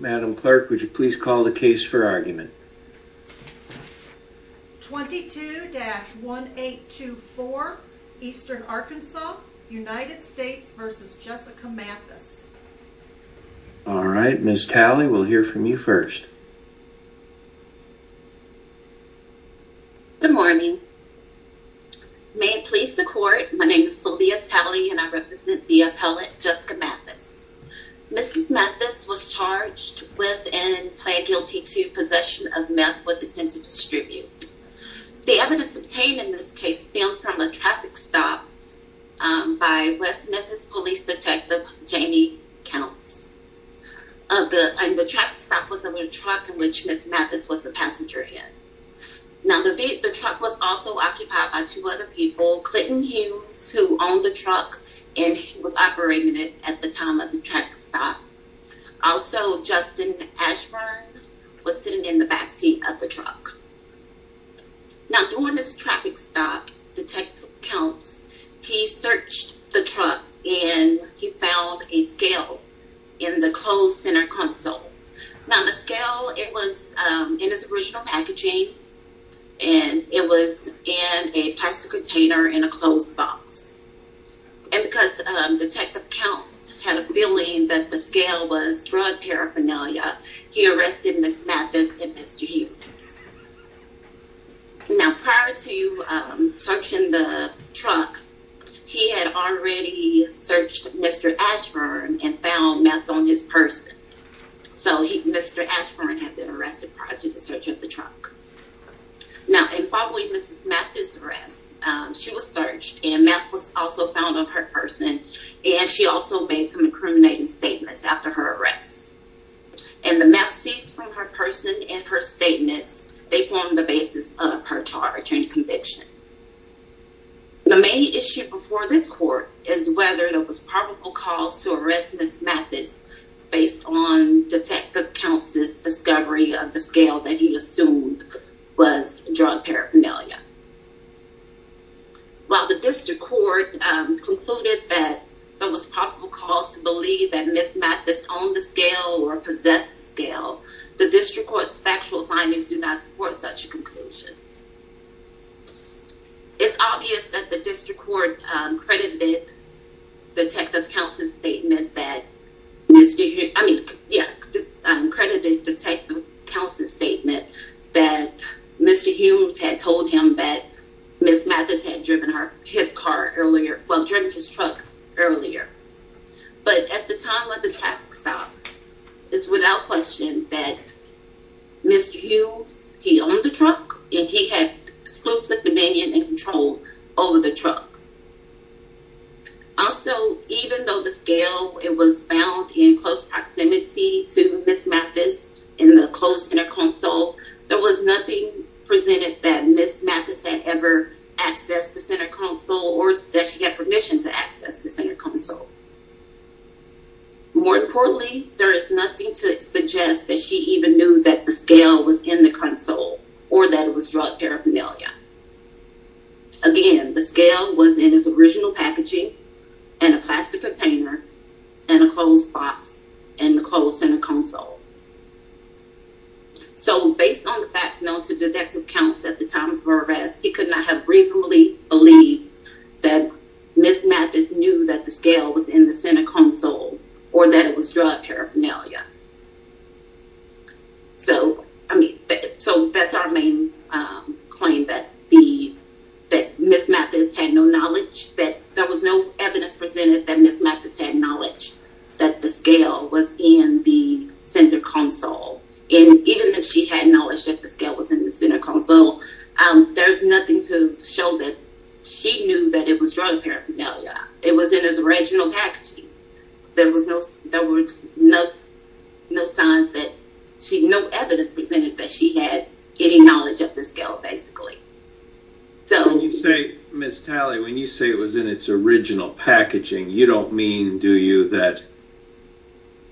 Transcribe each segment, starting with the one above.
Madam Clerk, would you please call the case for argument? 22-1824, Eastern Arkansas, United States v. Jessica Mathes Alright, Ms. Talley, we'll hear from you first. Good morning. May it please the court, my name is Sylvia Talley and I represent the appellate Jessica Mathes. Ms. Mathes was charged with and pled guilty to possession of meth with intent to distribute. The evidence obtained in this case stemmed from a traffic stop by West Memphis Police Detective Jamie Counts. The traffic stop was a truck in which Ms. Mathes was the passenger in. Now, the truck was also occupied by two other people, Clinton Hughes, who owned the truck and was operating it at the time of the traffic stop. Also, Justin Ashburn was sitting in the backseat of the truck. Now, during this traffic stop, Detective Counts, he searched the truck and he found a scale in the closed center console. Now, the scale, it was in its original packaging and it was in a plastic container in a closed box. And because Detective Counts had a feeling that the scale was drug paraphernalia, he arrested Ms. Mathes and Mr. Hughes. Now, prior to searching the truck, he had already searched Mr. Ashburn and found meth on his purse. So, Mr. Ashburn had been arrested prior to the search of the truck. Now, in following Ms. Mathes' arrest, she was searched and meth was also found on her person and she also made some incriminating statements after her arrest. And the meth seized from her person and her statements, they formed the basis of her charge and conviction. The main issue before this court is whether there was probable cause to arrest Ms. Mathes based on Detective Counts' discovery of the scale that he assumed was drug paraphernalia. While the district court concluded that there was probable cause to believe that Ms. Mathes owned the scale or possessed the scale, the district court's factual findings do not support such a conclusion. It's obvious that the district court credited Detective Counts' statement that Mr. Hughes had told him that Ms. Mathes had driven his truck earlier. But at the time of the traffic stop, it's without question that Mr. Hughes, he owned the truck and he had exclusive dominion and control over the truck. Also, even though the scale, it was found in close proximity to Ms. Mathes in the close center console, there was nothing presented that Ms. Mathes had ever accessed the center console or that she had permission to access the center console. More importantly, there is nothing to suggest that she even knew that the scale was in the console or that it was drug paraphernalia. Again, the scale was in his original packaging and a plastic container and a closed box in the closed center console. So based on the facts known to Detective Counts at the time of her arrest, he could not have reasonably believed that Ms. Mathes knew that the scale was in the center console or that it was drug paraphernalia. So, I mean, so that's our main claim that Ms. Mathes had no knowledge, that there was no evidence presented that Ms. Mathes had knowledge that the scale was in the center console. And even if she had knowledge that the scale was in the center console, there's nothing to show that she knew that it was drug paraphernalia. It was in his original packaging. There was no evidence presented that she had any knowledge of the scale, basically. When you say it was in its original packaging, you don't mean, do you, that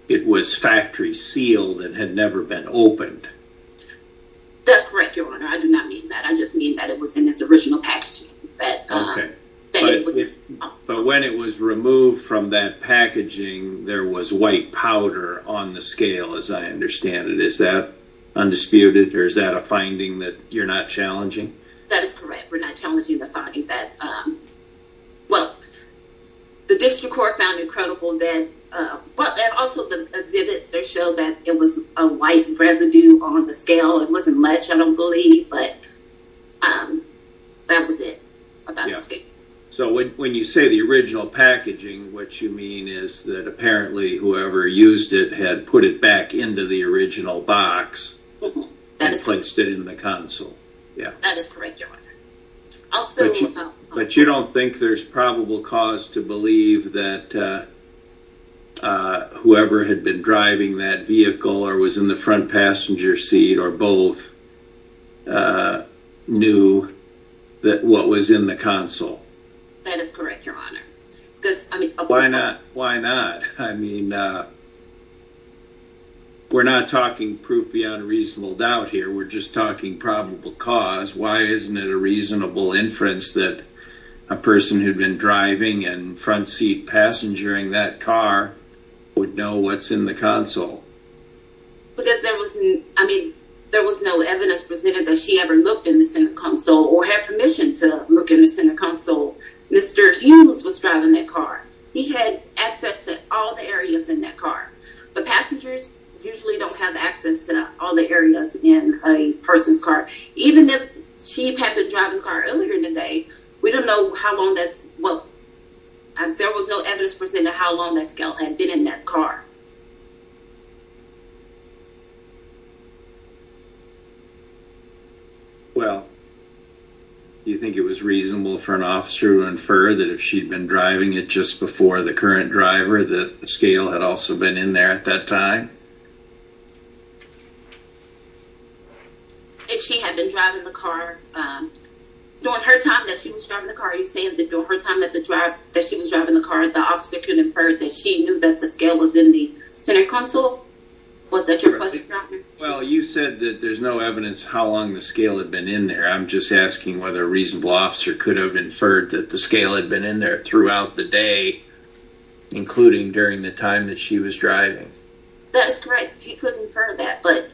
it was factory sealed and had never been opened? That's correct, Your Honor. I do not mean that. I just mean that it was in its original packaging. But when it was removed from that packaging, there was white powder on the scale, as I understand it. Is that undisputed or is that a finding that you're not challenging? That is correct. We're not challenging the finding that, well, the district court found it credible that, and also the exhibits, they show that it was a white residue on the scale. It wasn't much, I don't believe, but that was it about the scale. So when you say the original packaging, what you mean is that apparently whoever used it had put it back into the original box and placed it in the console. That is correct, Your Honor. But you don't think there's probable cause to believe that whoever had been driving that vehicle or was in the front passenger seat or both knew what was in the console? That is correct, Your Honor. Why not? Why not? I mean, we're not talking proof beyond a reasonable doubt here. We're just talking probable cause. Why isn't it a reasonable inference that a person who'd been driving and front seat passenger-ing that car would know what's in the console? Because there was no evidence presented that she ever looked in the center console or had permission to look in the center console. Mr. Hughes was driving that car. He had access to all the areas in that car. The passengers usually don't have access to all the areas in a person's car. Even if she had been driving the car earlier in the day, we don't know how long that's, well, there was no evidence presented how long that scale had been in that car. Well, do you think it was reasonable for an officer to infer that if she'd been driving it just before the current driver that the scale had also been in there at that time? If she had been driving the car, during her time that she was driving the car, are you saying that during her time that she was driving the car, the officer could infer that she knew that the scale was in the center console? Was that your question, Your Honor? Well, you said that there's no evidence how long the scale had been in there. I'm just asking whether a reasonable officer could have inferred that the scale had been in there throughout the day, including during the time that she was driving. That is correct. He could infer that, but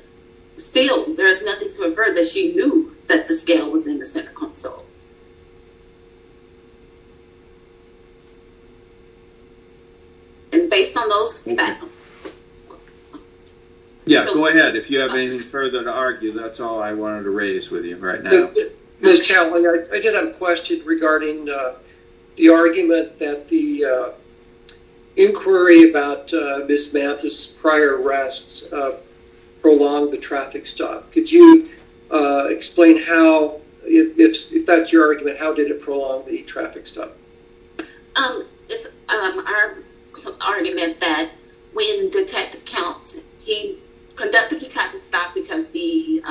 still, there is nothing to infer that she knew that the scale was in the center console. And based on those... Yeah, go ahead. If you have anything further to argue, that's all I wanted to raise with you right now. Ms. Townley, I did have a question regarding the argument that the inquiry about Ms. Mathis' prior arrests prolonged the traffic stop. Could you explain how, if that's your argument, how did it prolong the traffic stop? It's our argument that when Detective Counts, he conducted the traffic stop because the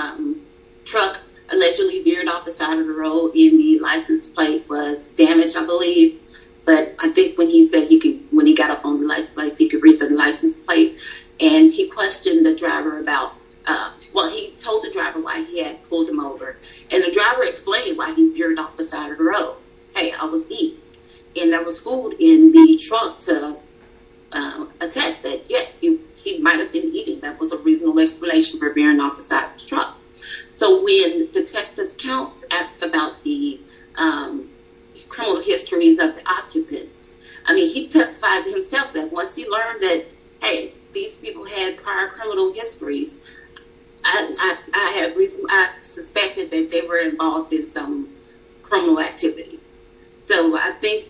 truck allegedly veered off the side of the road and the license plate was damaged, I believe. But I think when he said he could, when he got up on the license plate, he could read the license plate, and he questioned the driver about, well, he told the driver why he had pulled him over. And the driver explained why he veered off the side of the road. Hey, I was eating. And there was food in the truck to attest that, yes, he might have been eating. That was a reasonable explanation for veering off the side of the truck. So when Detective Counts asked about the criminal histories of the occupants, I mean, he testified to himself that once he learned that, hey, these people had prior criminal histories, I had reason, I suspected that they were involved in some criminal activity. So I think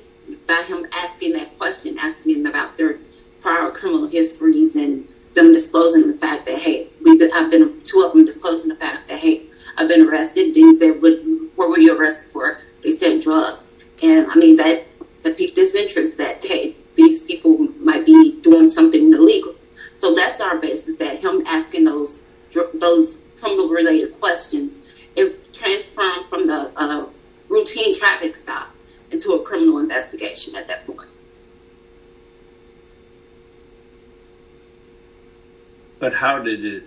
by him asking that question, asking about their prior criminal histories and them disclosing the fact that, hey, we've been, two of them disclosing the fact that, hey, I've been arrested, where were you arrested for? They said drugs. And I mean, this interest that, hey, these people might be doing something illegal. So that's our basis that him asking those criminal-related questions, it transformed from the routine traffic stop into a criminal investigation at that point. But how did it,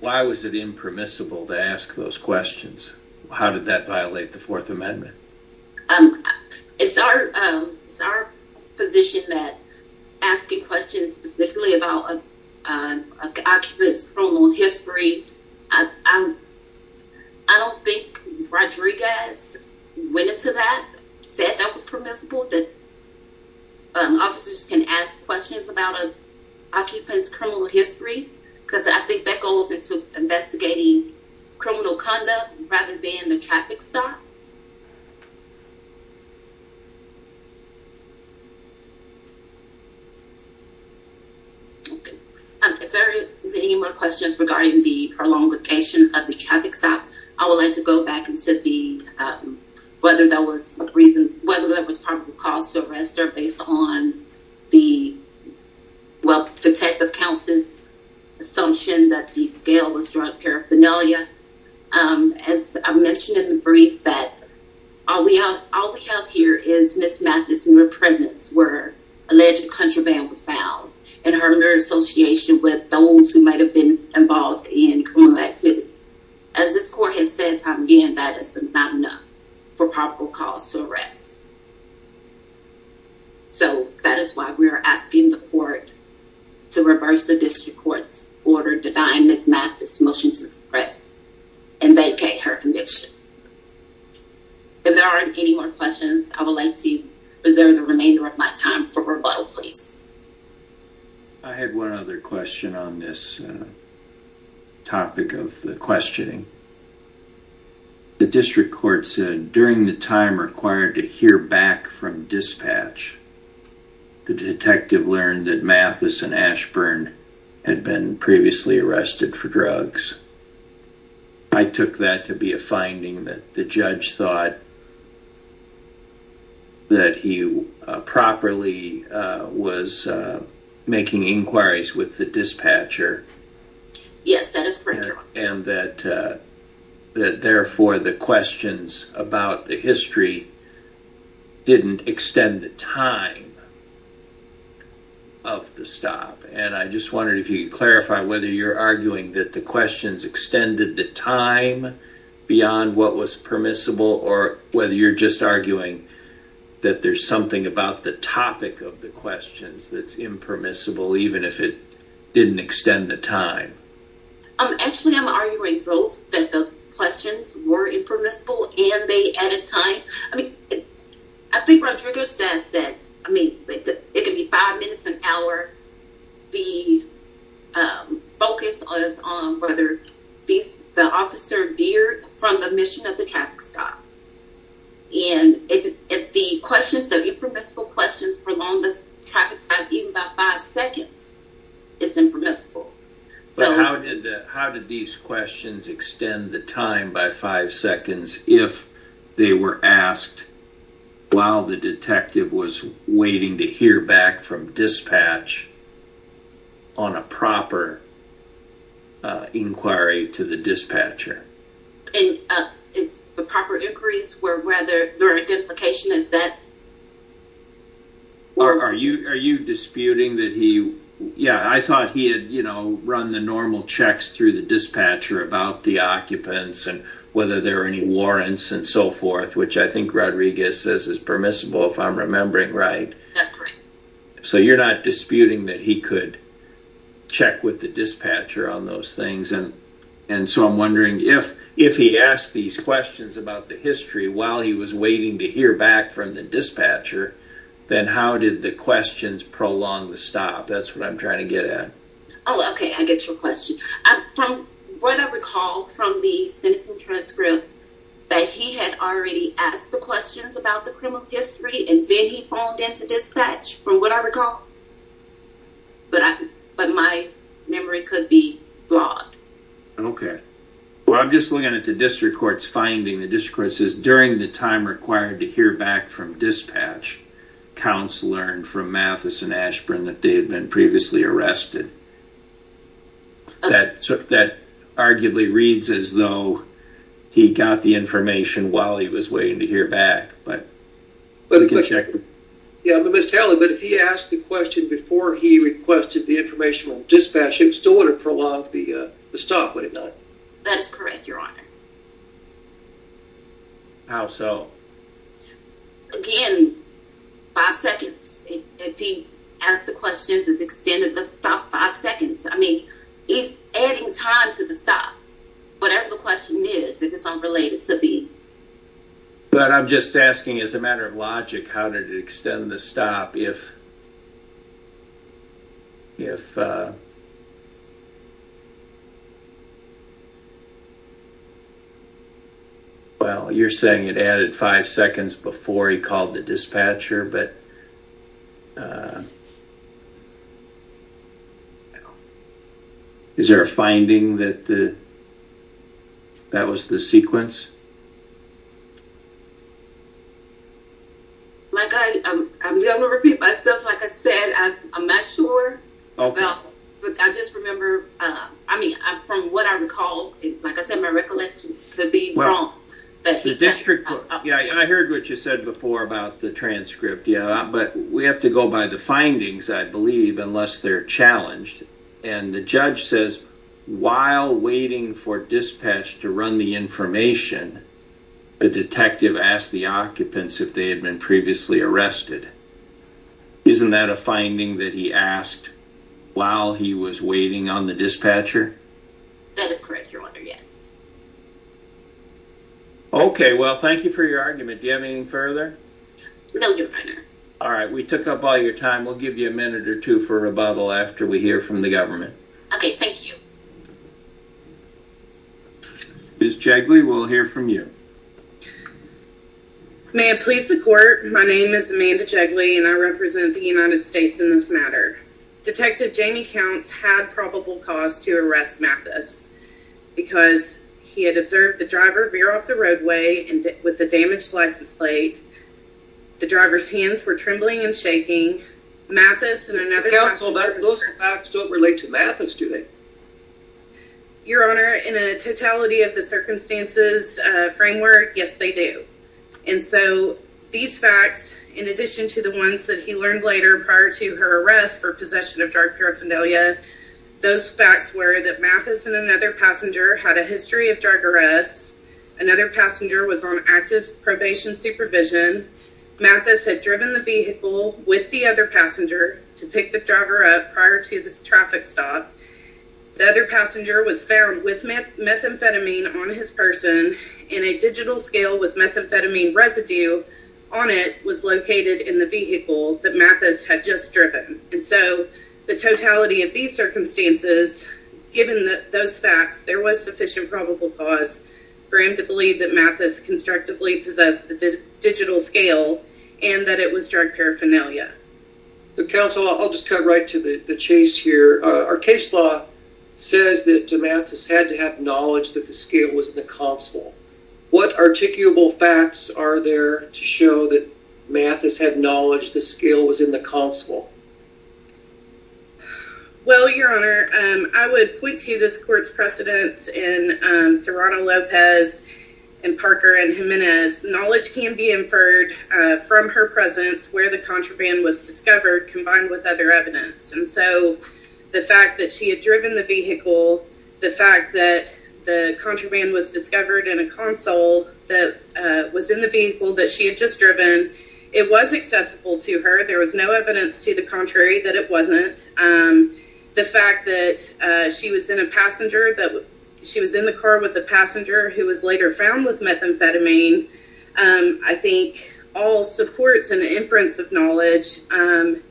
why was it impermissible to ask those questions? How did that violate the Fourth Amendment? It's our position that asking questions specifically about an occupant's criminal history, I don't think Rodriguez went into that, said that was permissible, that officers can ask questions about an occupant's criminal history. Because I think that goes into investigating criminal conduct rather than the traffic stop. Okay, if there is any more questions regarding the prolongation of the traffic stop, I would like to go back into the, whether that was reason, whether that was probable cause to arrest her based on the, well, Detective Counsel's assumption that the scale was drug paraphernalia. As I mentioned in the brief, that all we have here is Ms. Mathis' mere presence where alleged contraband was found and her mere association with those who might have been involved in criminal activity. As this court has said time and again, that is not enough for probable cause to arrest. So that is why we are asking the court to reverse the district court's order denying Ms. Mathis' motion to suppress and vacate her conviction. If there aren't any more questions, I would like to reserve the remainder of my time for rebuttal, please. I had one other question on this topic of the questioning. The district court said during the time required to hear back from dispatch, the detective learned that Mathis and Ashburn had been previously arrested for drugs. I took that to be a finding that the judge thought that he properly was making inquiries with the dispatcher. Yes, that is correct, Your Honor. And that therefore the questions about the history didn't extend the time of the stop. And I just wondered if you could clarify whether you're arguing that the questions extended the time beyond what was permissible or whether you're just arguing that there's something about the topic of the questions that's impermissible even if it didn't extend the time. Actually, I'm arguing both, that the questions were impermissible and they added time. I mean, I think Rodriguez says that, I mean, it could be five minutes, an hour. The focus was on whether the officer veered from the mission of the traffic stop. And if the questions, the impermissible questions prolonged the traffic stop even by five seconds, it's impermissible. So how did these questions extend the time by five seconds if they were asked while the detective was waiting to hear back from dispatch on a proper inquiry to the dispatcher? And it's the proper inquiries were whether their identification is that? Are you disputing that he, yeah, I thought he had, you know, run the normal checks through the dispatcher about the occupants and whether there are any warrants and so forth, which I think Rodriguez says is permissible if I'm remembering right. So you're not disputing that he could check with the dispatcher on those things. And and so I'm wondering if if he asked these questions about the history while he was waiting to hear back from the dispatcher, then how did the questions prolong the stop? That's what I'm trying to get at. Oh, OK, I get your question. From what I recall from the citizen transcript that he had already asked the questions about the criminal history and then he phoned in to dispatch from what I recall. But but my memory could be broad. OK, well, I'm just looking at the district court's finding. The district court says during the time required to hear back from dispatch, counts learned from Mathis and Ashburn that they had been previously arrested. That that arguably reads as though he got the information while he was waiting to hear back. But we can check. Yeah, but tell him that if he asked the question before he requested the informational dispatch, it still would have prolonged the stop, would it not? That is correct, Your Honor. How so? Again, five seconds. If he asked the questions and extended the stop five seconds. I mean, he's adding time to the stop. Whatever the question is, it is unrelated to the. But I'm just asking as a matter of logic, how did it extend the stop if. If. Well, you're saying it added five seconds before he called the dispatcher, but. Is there a finding that. That was the. That was the sequence. My God, I'm going to repeat myself. Like I said, I'm not sure. But I just remember. I mean, from what I recall, like I said, my recollection. I heard what you said before about the transcript. But we have to go by the findings, I believe, unless they're challenged. And the judge says while waiting for dispatch to run the information. The detective asked the occupants if they had been previously arrested. Isn't that a finding that he asked while he was waiting on the dispatcher? That is correct, Your Honor, yes. Okay, well, thank you for your argument. Do you have anything further? No, Your Honor. All right, we took up all your time. We'll give you a minute or two for rebuttal after we hear from the government. Okay, thank you. Ms. Jagley, we'll hear from you. May I please support? My name is Amanda Jagley, and I represent the United States in this matter. Detective Jamie Counts had probable cause to arrest Mathis. Because he had observed the driver veer off the roadway with the damaged license plate. The driver's hands were trembling and shaking. Those facts don't relate to Mathis, do they? Your Honor, in a totality of the circumstances framework, yes, they do. And so these facts, in addition to the ones that he learned later prior to her arrest for possession of drug paraphernalia, those facts were that Mathis and another passenger had a history of drug arrests. Another passenger was on active probation supervision. Mathis had driven the vehicle with the other passenger to pick the driver up prior to the traffic stop. The other passenger was found with methamphetamine on his person, and a digital scale with methamphetamine residue on it was located in the vehicle that Mathis had just driven. And so the totality of these circumstances, given those facts, there was sufficient probable cause for him to believe that Mathis constructively possessed a digital scale and that it was drug paraphernalia. Counsel, I'll just cut right to the chase here. Our case law says that Mathis had to have knowledge that the scale was in the console. What articulable facts are there to show that Mathis had knowledge the scale was in the console? Well, Your Honor, I would point to this court's precedence in Serrano-Lopez and Parker and Jimenez. Knowledge can be inferred from her presence where the contraband was discovered combined with other evidence. And so the fact that she had driven the vehicle, the fact that the contraband was discovered in a console that was in the vehicle that she had just driven, it was accessible to her. There was no evidence to the contrary that it wasn't. The fact that she was in the car with the passenger who was later found with methamphetamine, I think all supports an inference of knowledge. And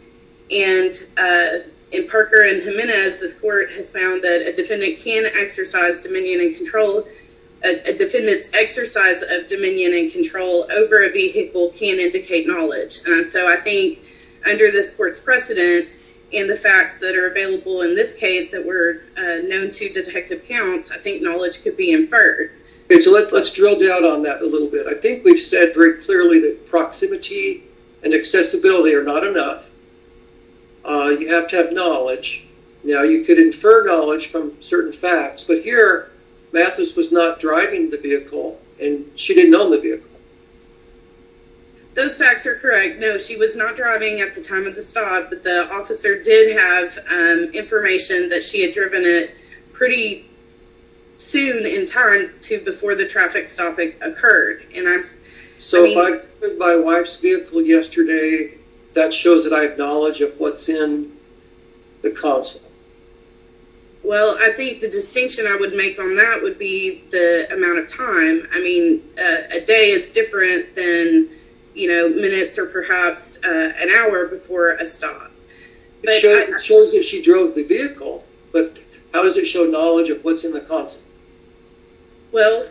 in Parker and Jimenez, this court has found that a defendant can exercise dominion and control. A defendant's exercise of dominion and control over a vehicle can indicate knowledge. And so I think under this court's precedent and the facts that are available in this case that were known to detective counts, I think knowledge could be inferred. So let's drill down on that a little bit. I think we've said very clearly that proximity and accessibility are not enough. You have to have knowledge. Now, you could infer knowledge from certain facts, but here Mathis was not driving the vehicle and she didn't own the vehicle. Those facts are correct. No, she was not driving at the time of the stop, but the officer did have information that she had driven it pretty soon in time to before the traffic stop occurred. So if I took my wife's vehicle yesterday, that shows that I have knowledge of what's in the console. Well, I think the distinction I would make on that would be the amount of time. I mean, a day is different than minutes or perhaps an hour before a stop. It shows that she drove the vehicle, but how does it show knowledge of what's in the console? Well,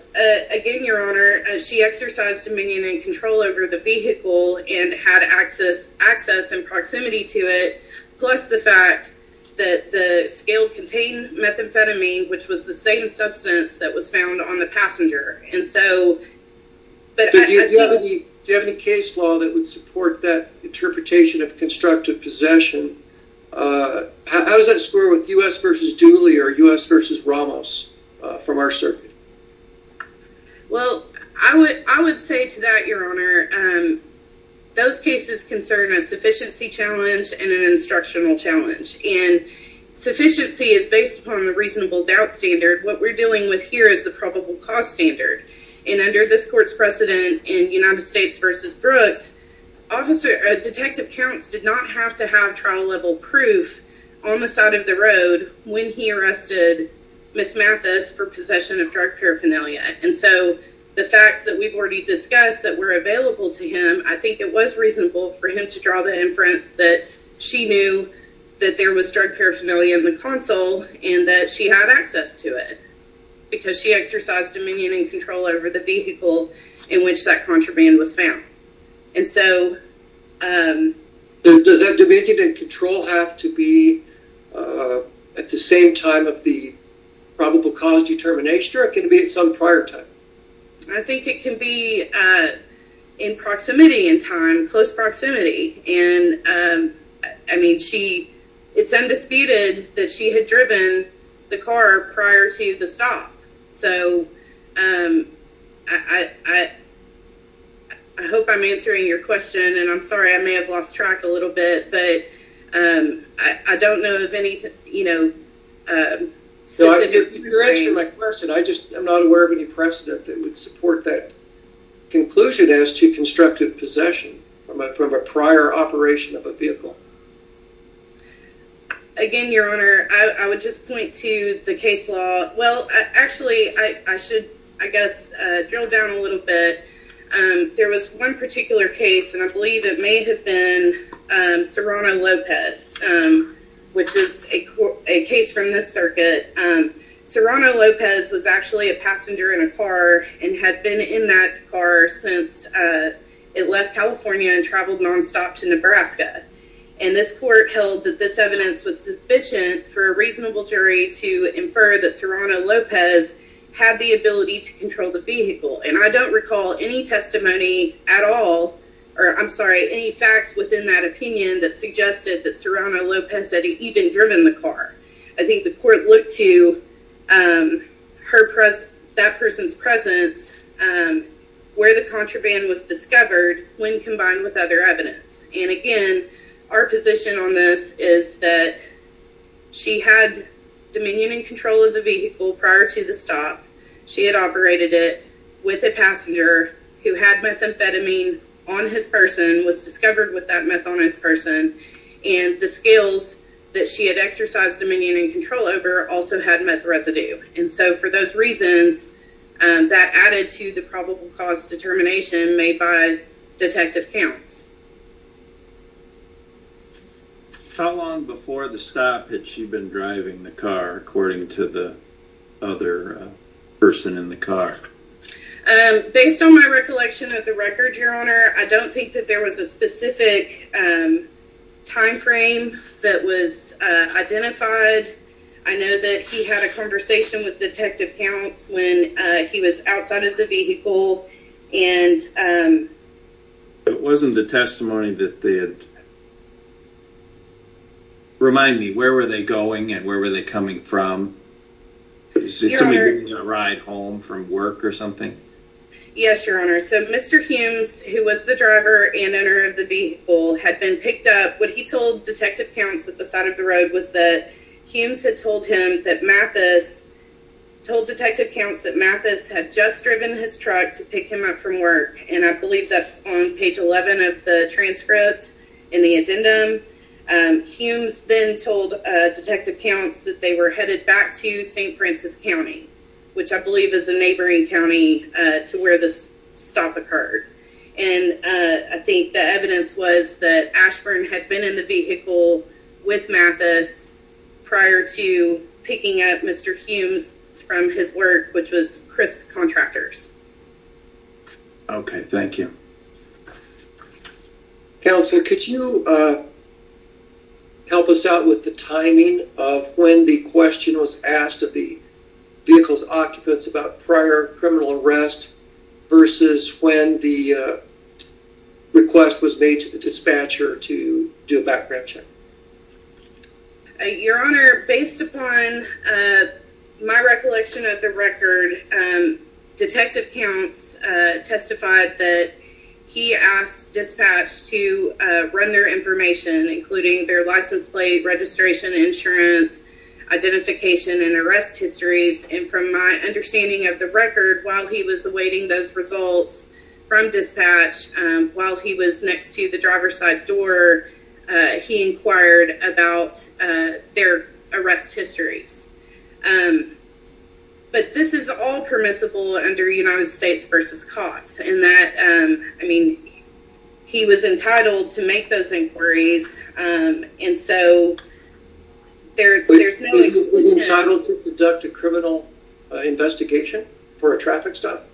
again, Your Honor, she exercised dominion and control over the vehicle and had access and proximity to it, plus the fact that the scale contained methamphetamine, which was the same substance that was found on the passenger. Do you have any case law that would support that interpretation of constructive possession? How does that score with U.S. v. Dooley or U.S. v. Ramos from our circuit? Well, I would say to that, Your Honor, those cases concern a sufficiency challenge and an instructional challenge. And sufficiency is based upon the reasonable doubt standard. What we're dealing with here is the probable cause standard. And under this court's precedent in United States v. Brooks, detective counts did not have to have trial-level proof on the side of the road when he arrested Ms. Mathis for possession of drug paraphernalia. And so the facts that we've already discussed that were available to him, I think it was reasonable for him to draw the inference that she knew that there was drug paraphernalia in the console and that she had access to it because she exercised dominion and control over the vehicle in which that contraband was found. And so... Does that dominion and control have to be at the same time of the probable cause determination or can it be at some prior time? I think it can be in proximity in time, close proximity. And I mean, it's undisputed that she had driven the car prior to the stop. So I hope I'm answering your question. And I'm sorry, I may have lost track a little bit. But I don't know of any, you know, specific... You're answering my question. I just am not aware of any precedent that would support that conclusion as to constructive possession from a prior operation of a vehicle. Again, Your Honor, I would just point to the case law. Well, actually, I should, I guess, drill down a little bit. There was one particular case, and I believe it may have been Serrano-Lopez, which is a case from this circuit. Serrano-Lopez was actually a passenger in a car and had been in that car since it left California and traveled nonstop to Nebraska. And this court held that this evidence was sufficient for a reasonable jury to infer that Serrano-Lopez had the ability to control the vehicle. And I don't recall any testimony at all, or I'm sorry, any facts within that opinion that suggested that Serrano-Lopez had even driven the car. I think the court looked to that person's presence, where the contraband was discovered, when combined with other evidence. And again, our position on this is that she had dominion and control of the vehicle prior to the stop. She had operated it with a passenger who had methamphetamine on his person, was discovered with that meth on his person, and the skills that she had exercised dominion and control over also had meth residue. And so for those reasons, that added to the probable cause determination made by detective counts. How long before the stop had she been driving the car, according to the other person in the car? Your Honor, I don't think that there was a specific time frame that was identified. I know that he had a conversation with detective counts when he was outside of the vehicle, and... But wasn't the testimony that they had... Remind me, where were they going and where were they coming from? Was somebody bringing a ride home from work or something? Yes, Your Honor. So Mr. Humes, who was the driver and owner of the vehicle, had been picked up. What he told detective counts at the side of the road was that Humes had told him that Mathis... Told detective counts that Mathis had just driven his truck to pick him up from work. And I believe that's on page 11 of the transcript in the addendum. Humes then told detective counts that they were headed back to St. Francis County, which I believe is a neighboring county to where the stop occurred. And I think the evidence was that Ashburn had been in the vehicle with Mathis prior to picking up Mr. Humes from his work, which was Crisp Contractors. Okay, thank you. Counselor, could you help us out with the timing of when the question was asked of the vehicle's occupants about prior criminal arrest versus when the request was made to the dispatcher to do a background check? Your Honor, based upon my recollection of the record, detective counts testified that he asked dispatch to run their information, including their license plate, registration, insurance, identification, and arrest histories. And from my understanding of the record, while he was awaiting those results from dispatch, while he was next to the driver's side door, he inquired about their arrest histories. But this is all permissible under United States v. Cox. I mean, he was entitled to make those inquiries, and so there's no exclusion. Was he entitled to conduct a criminal investigation for a traffic stop?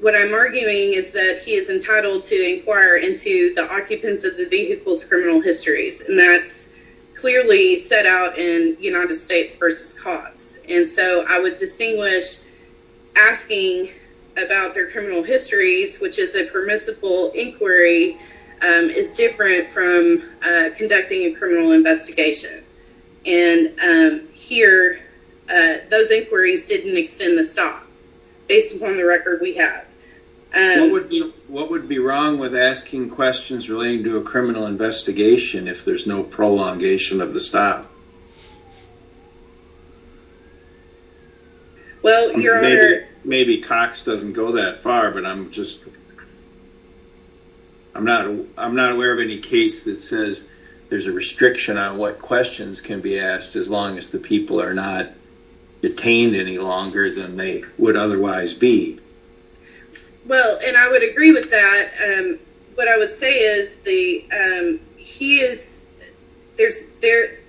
What I'm arguing is that he is entitled to inquire into the occupants of the vehicle's criminal histories, and that's clearly set out in United States v. Cox. And so I would distinguish asking about their criminal histories, which is a permissible inquiry, is different from conducting a criminal investigation. And here, those inquiries didn't extend the stop, based upon the record we have. What would be wrong with asking questions relating to a criminal investigation if there's no prolongation of the stop? Maybe Cox doesn't go that far, but I'm not aware of any case that says there's a restriction on what questions can be asked, as long as the people are not detained any longer than they would otherwise be. Well, and I would agree with that. What I would say is,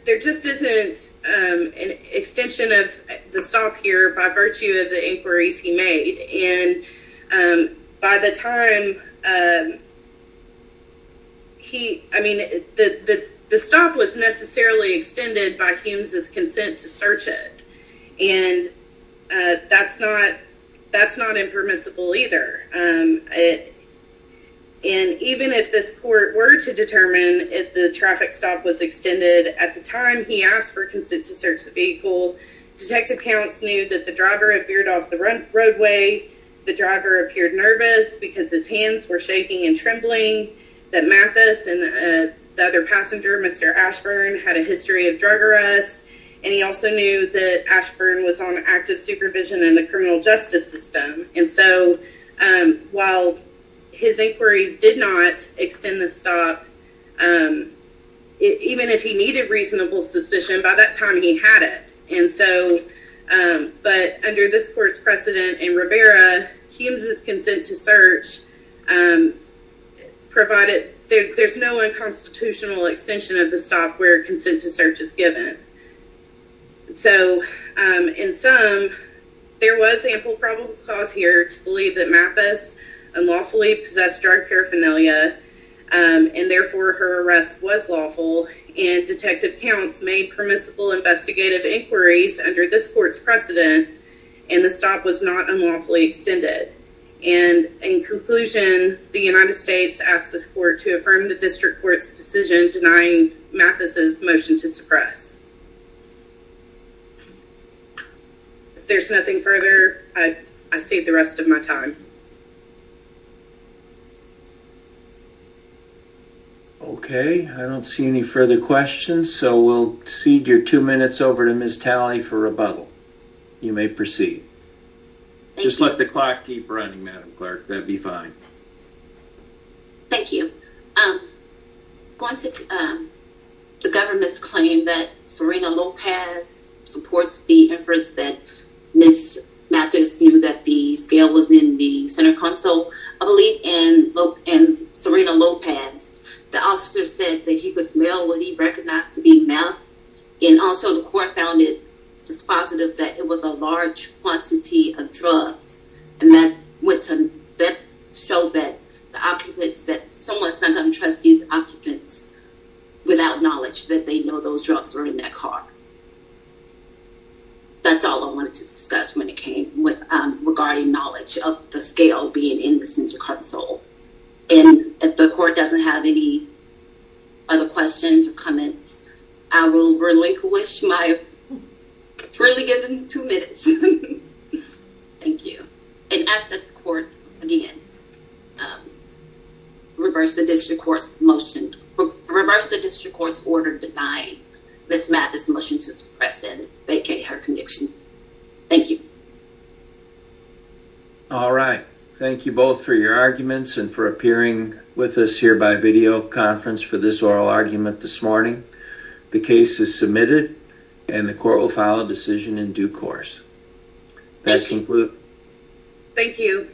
there just isn't an extension of the stop here, by virtue of the inquiries he made. And by the time he, I mean, the stop was necessarily extended by Humes' consent to search it. And that's not impermissible either. And even if this court were to determine if the traffic stop was extended, at the time he asked for consent to search the vehicle, detective counts knew that the driver appeared off the roadway, the driver appeared nervous because his hands were shaking and trembling, that Mathis and the other passenger, Mr. Ashburn, had a history of drug arrest, and he also knew that Ashburn was on active supervision in the criminal justice system. And so, while his inquiries did not extend the stop, even if he needed reasonable suspicion, by that time he had it. And so, but under this court's precedent in Rivera, Humes' consent to search provided, there's no unconstitutional extension of the stop where consent to search is given. So, in sum, there was ample probable cause here to believe that Mathis unlawfully possessed drug paraphernalia, and therefore her arrest was lawful, and detective counts made permissible investigative inquiries under this court's precedent, and the stop was not unlawfully extended. And in conclusion, the United States asked this court to affirm the district court's decision denying Mathis' motion to suppress. If there's nothing further, I save the rest of my time. Okay, I don't see any further questions, so we'll cede your two minutes over to Ms. Talley for rebuttal. You may proceed. Just let the clock keep running, Madam Clerk, that'd be fine. Thank you. Going to the government's claim that Serena Lopez supports the inference that Ms. Mathis knew that the scale was in the center console, I believe in Serena Lopez, the officer said that he was male when he recognized to be Math, and also the court found it dispositive that it was a large quantity of drugs, and that went to show that someone's not going to trust these occupants without knowledge that they know those drugs were in that car. That's all I wanted to discuss when it came regarding knowledge of the scale being in the center console. And if the court doesn't have any other questions or comments, I will relinquish my freely given two minutes. Thank you. And ask that the court, again, reverse the district court's order to deny Ms. Mathis' motion to suppress and vacate her conviction. Thank you. All right. Thank you both for your arguments and for appearing with us here by videoconference for this oral argument this morning. The case is submitted, and the court will file a decision in due course. Thank you. Thank you.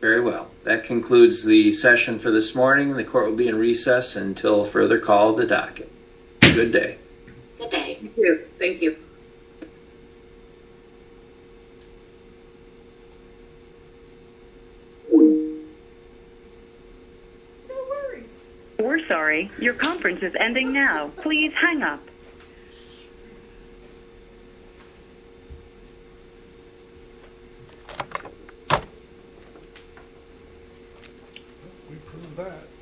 Very well. That concludes the session for this morning, and the court will be in recess until further call of the docket. Good day. Good day. Thank you. Thank you.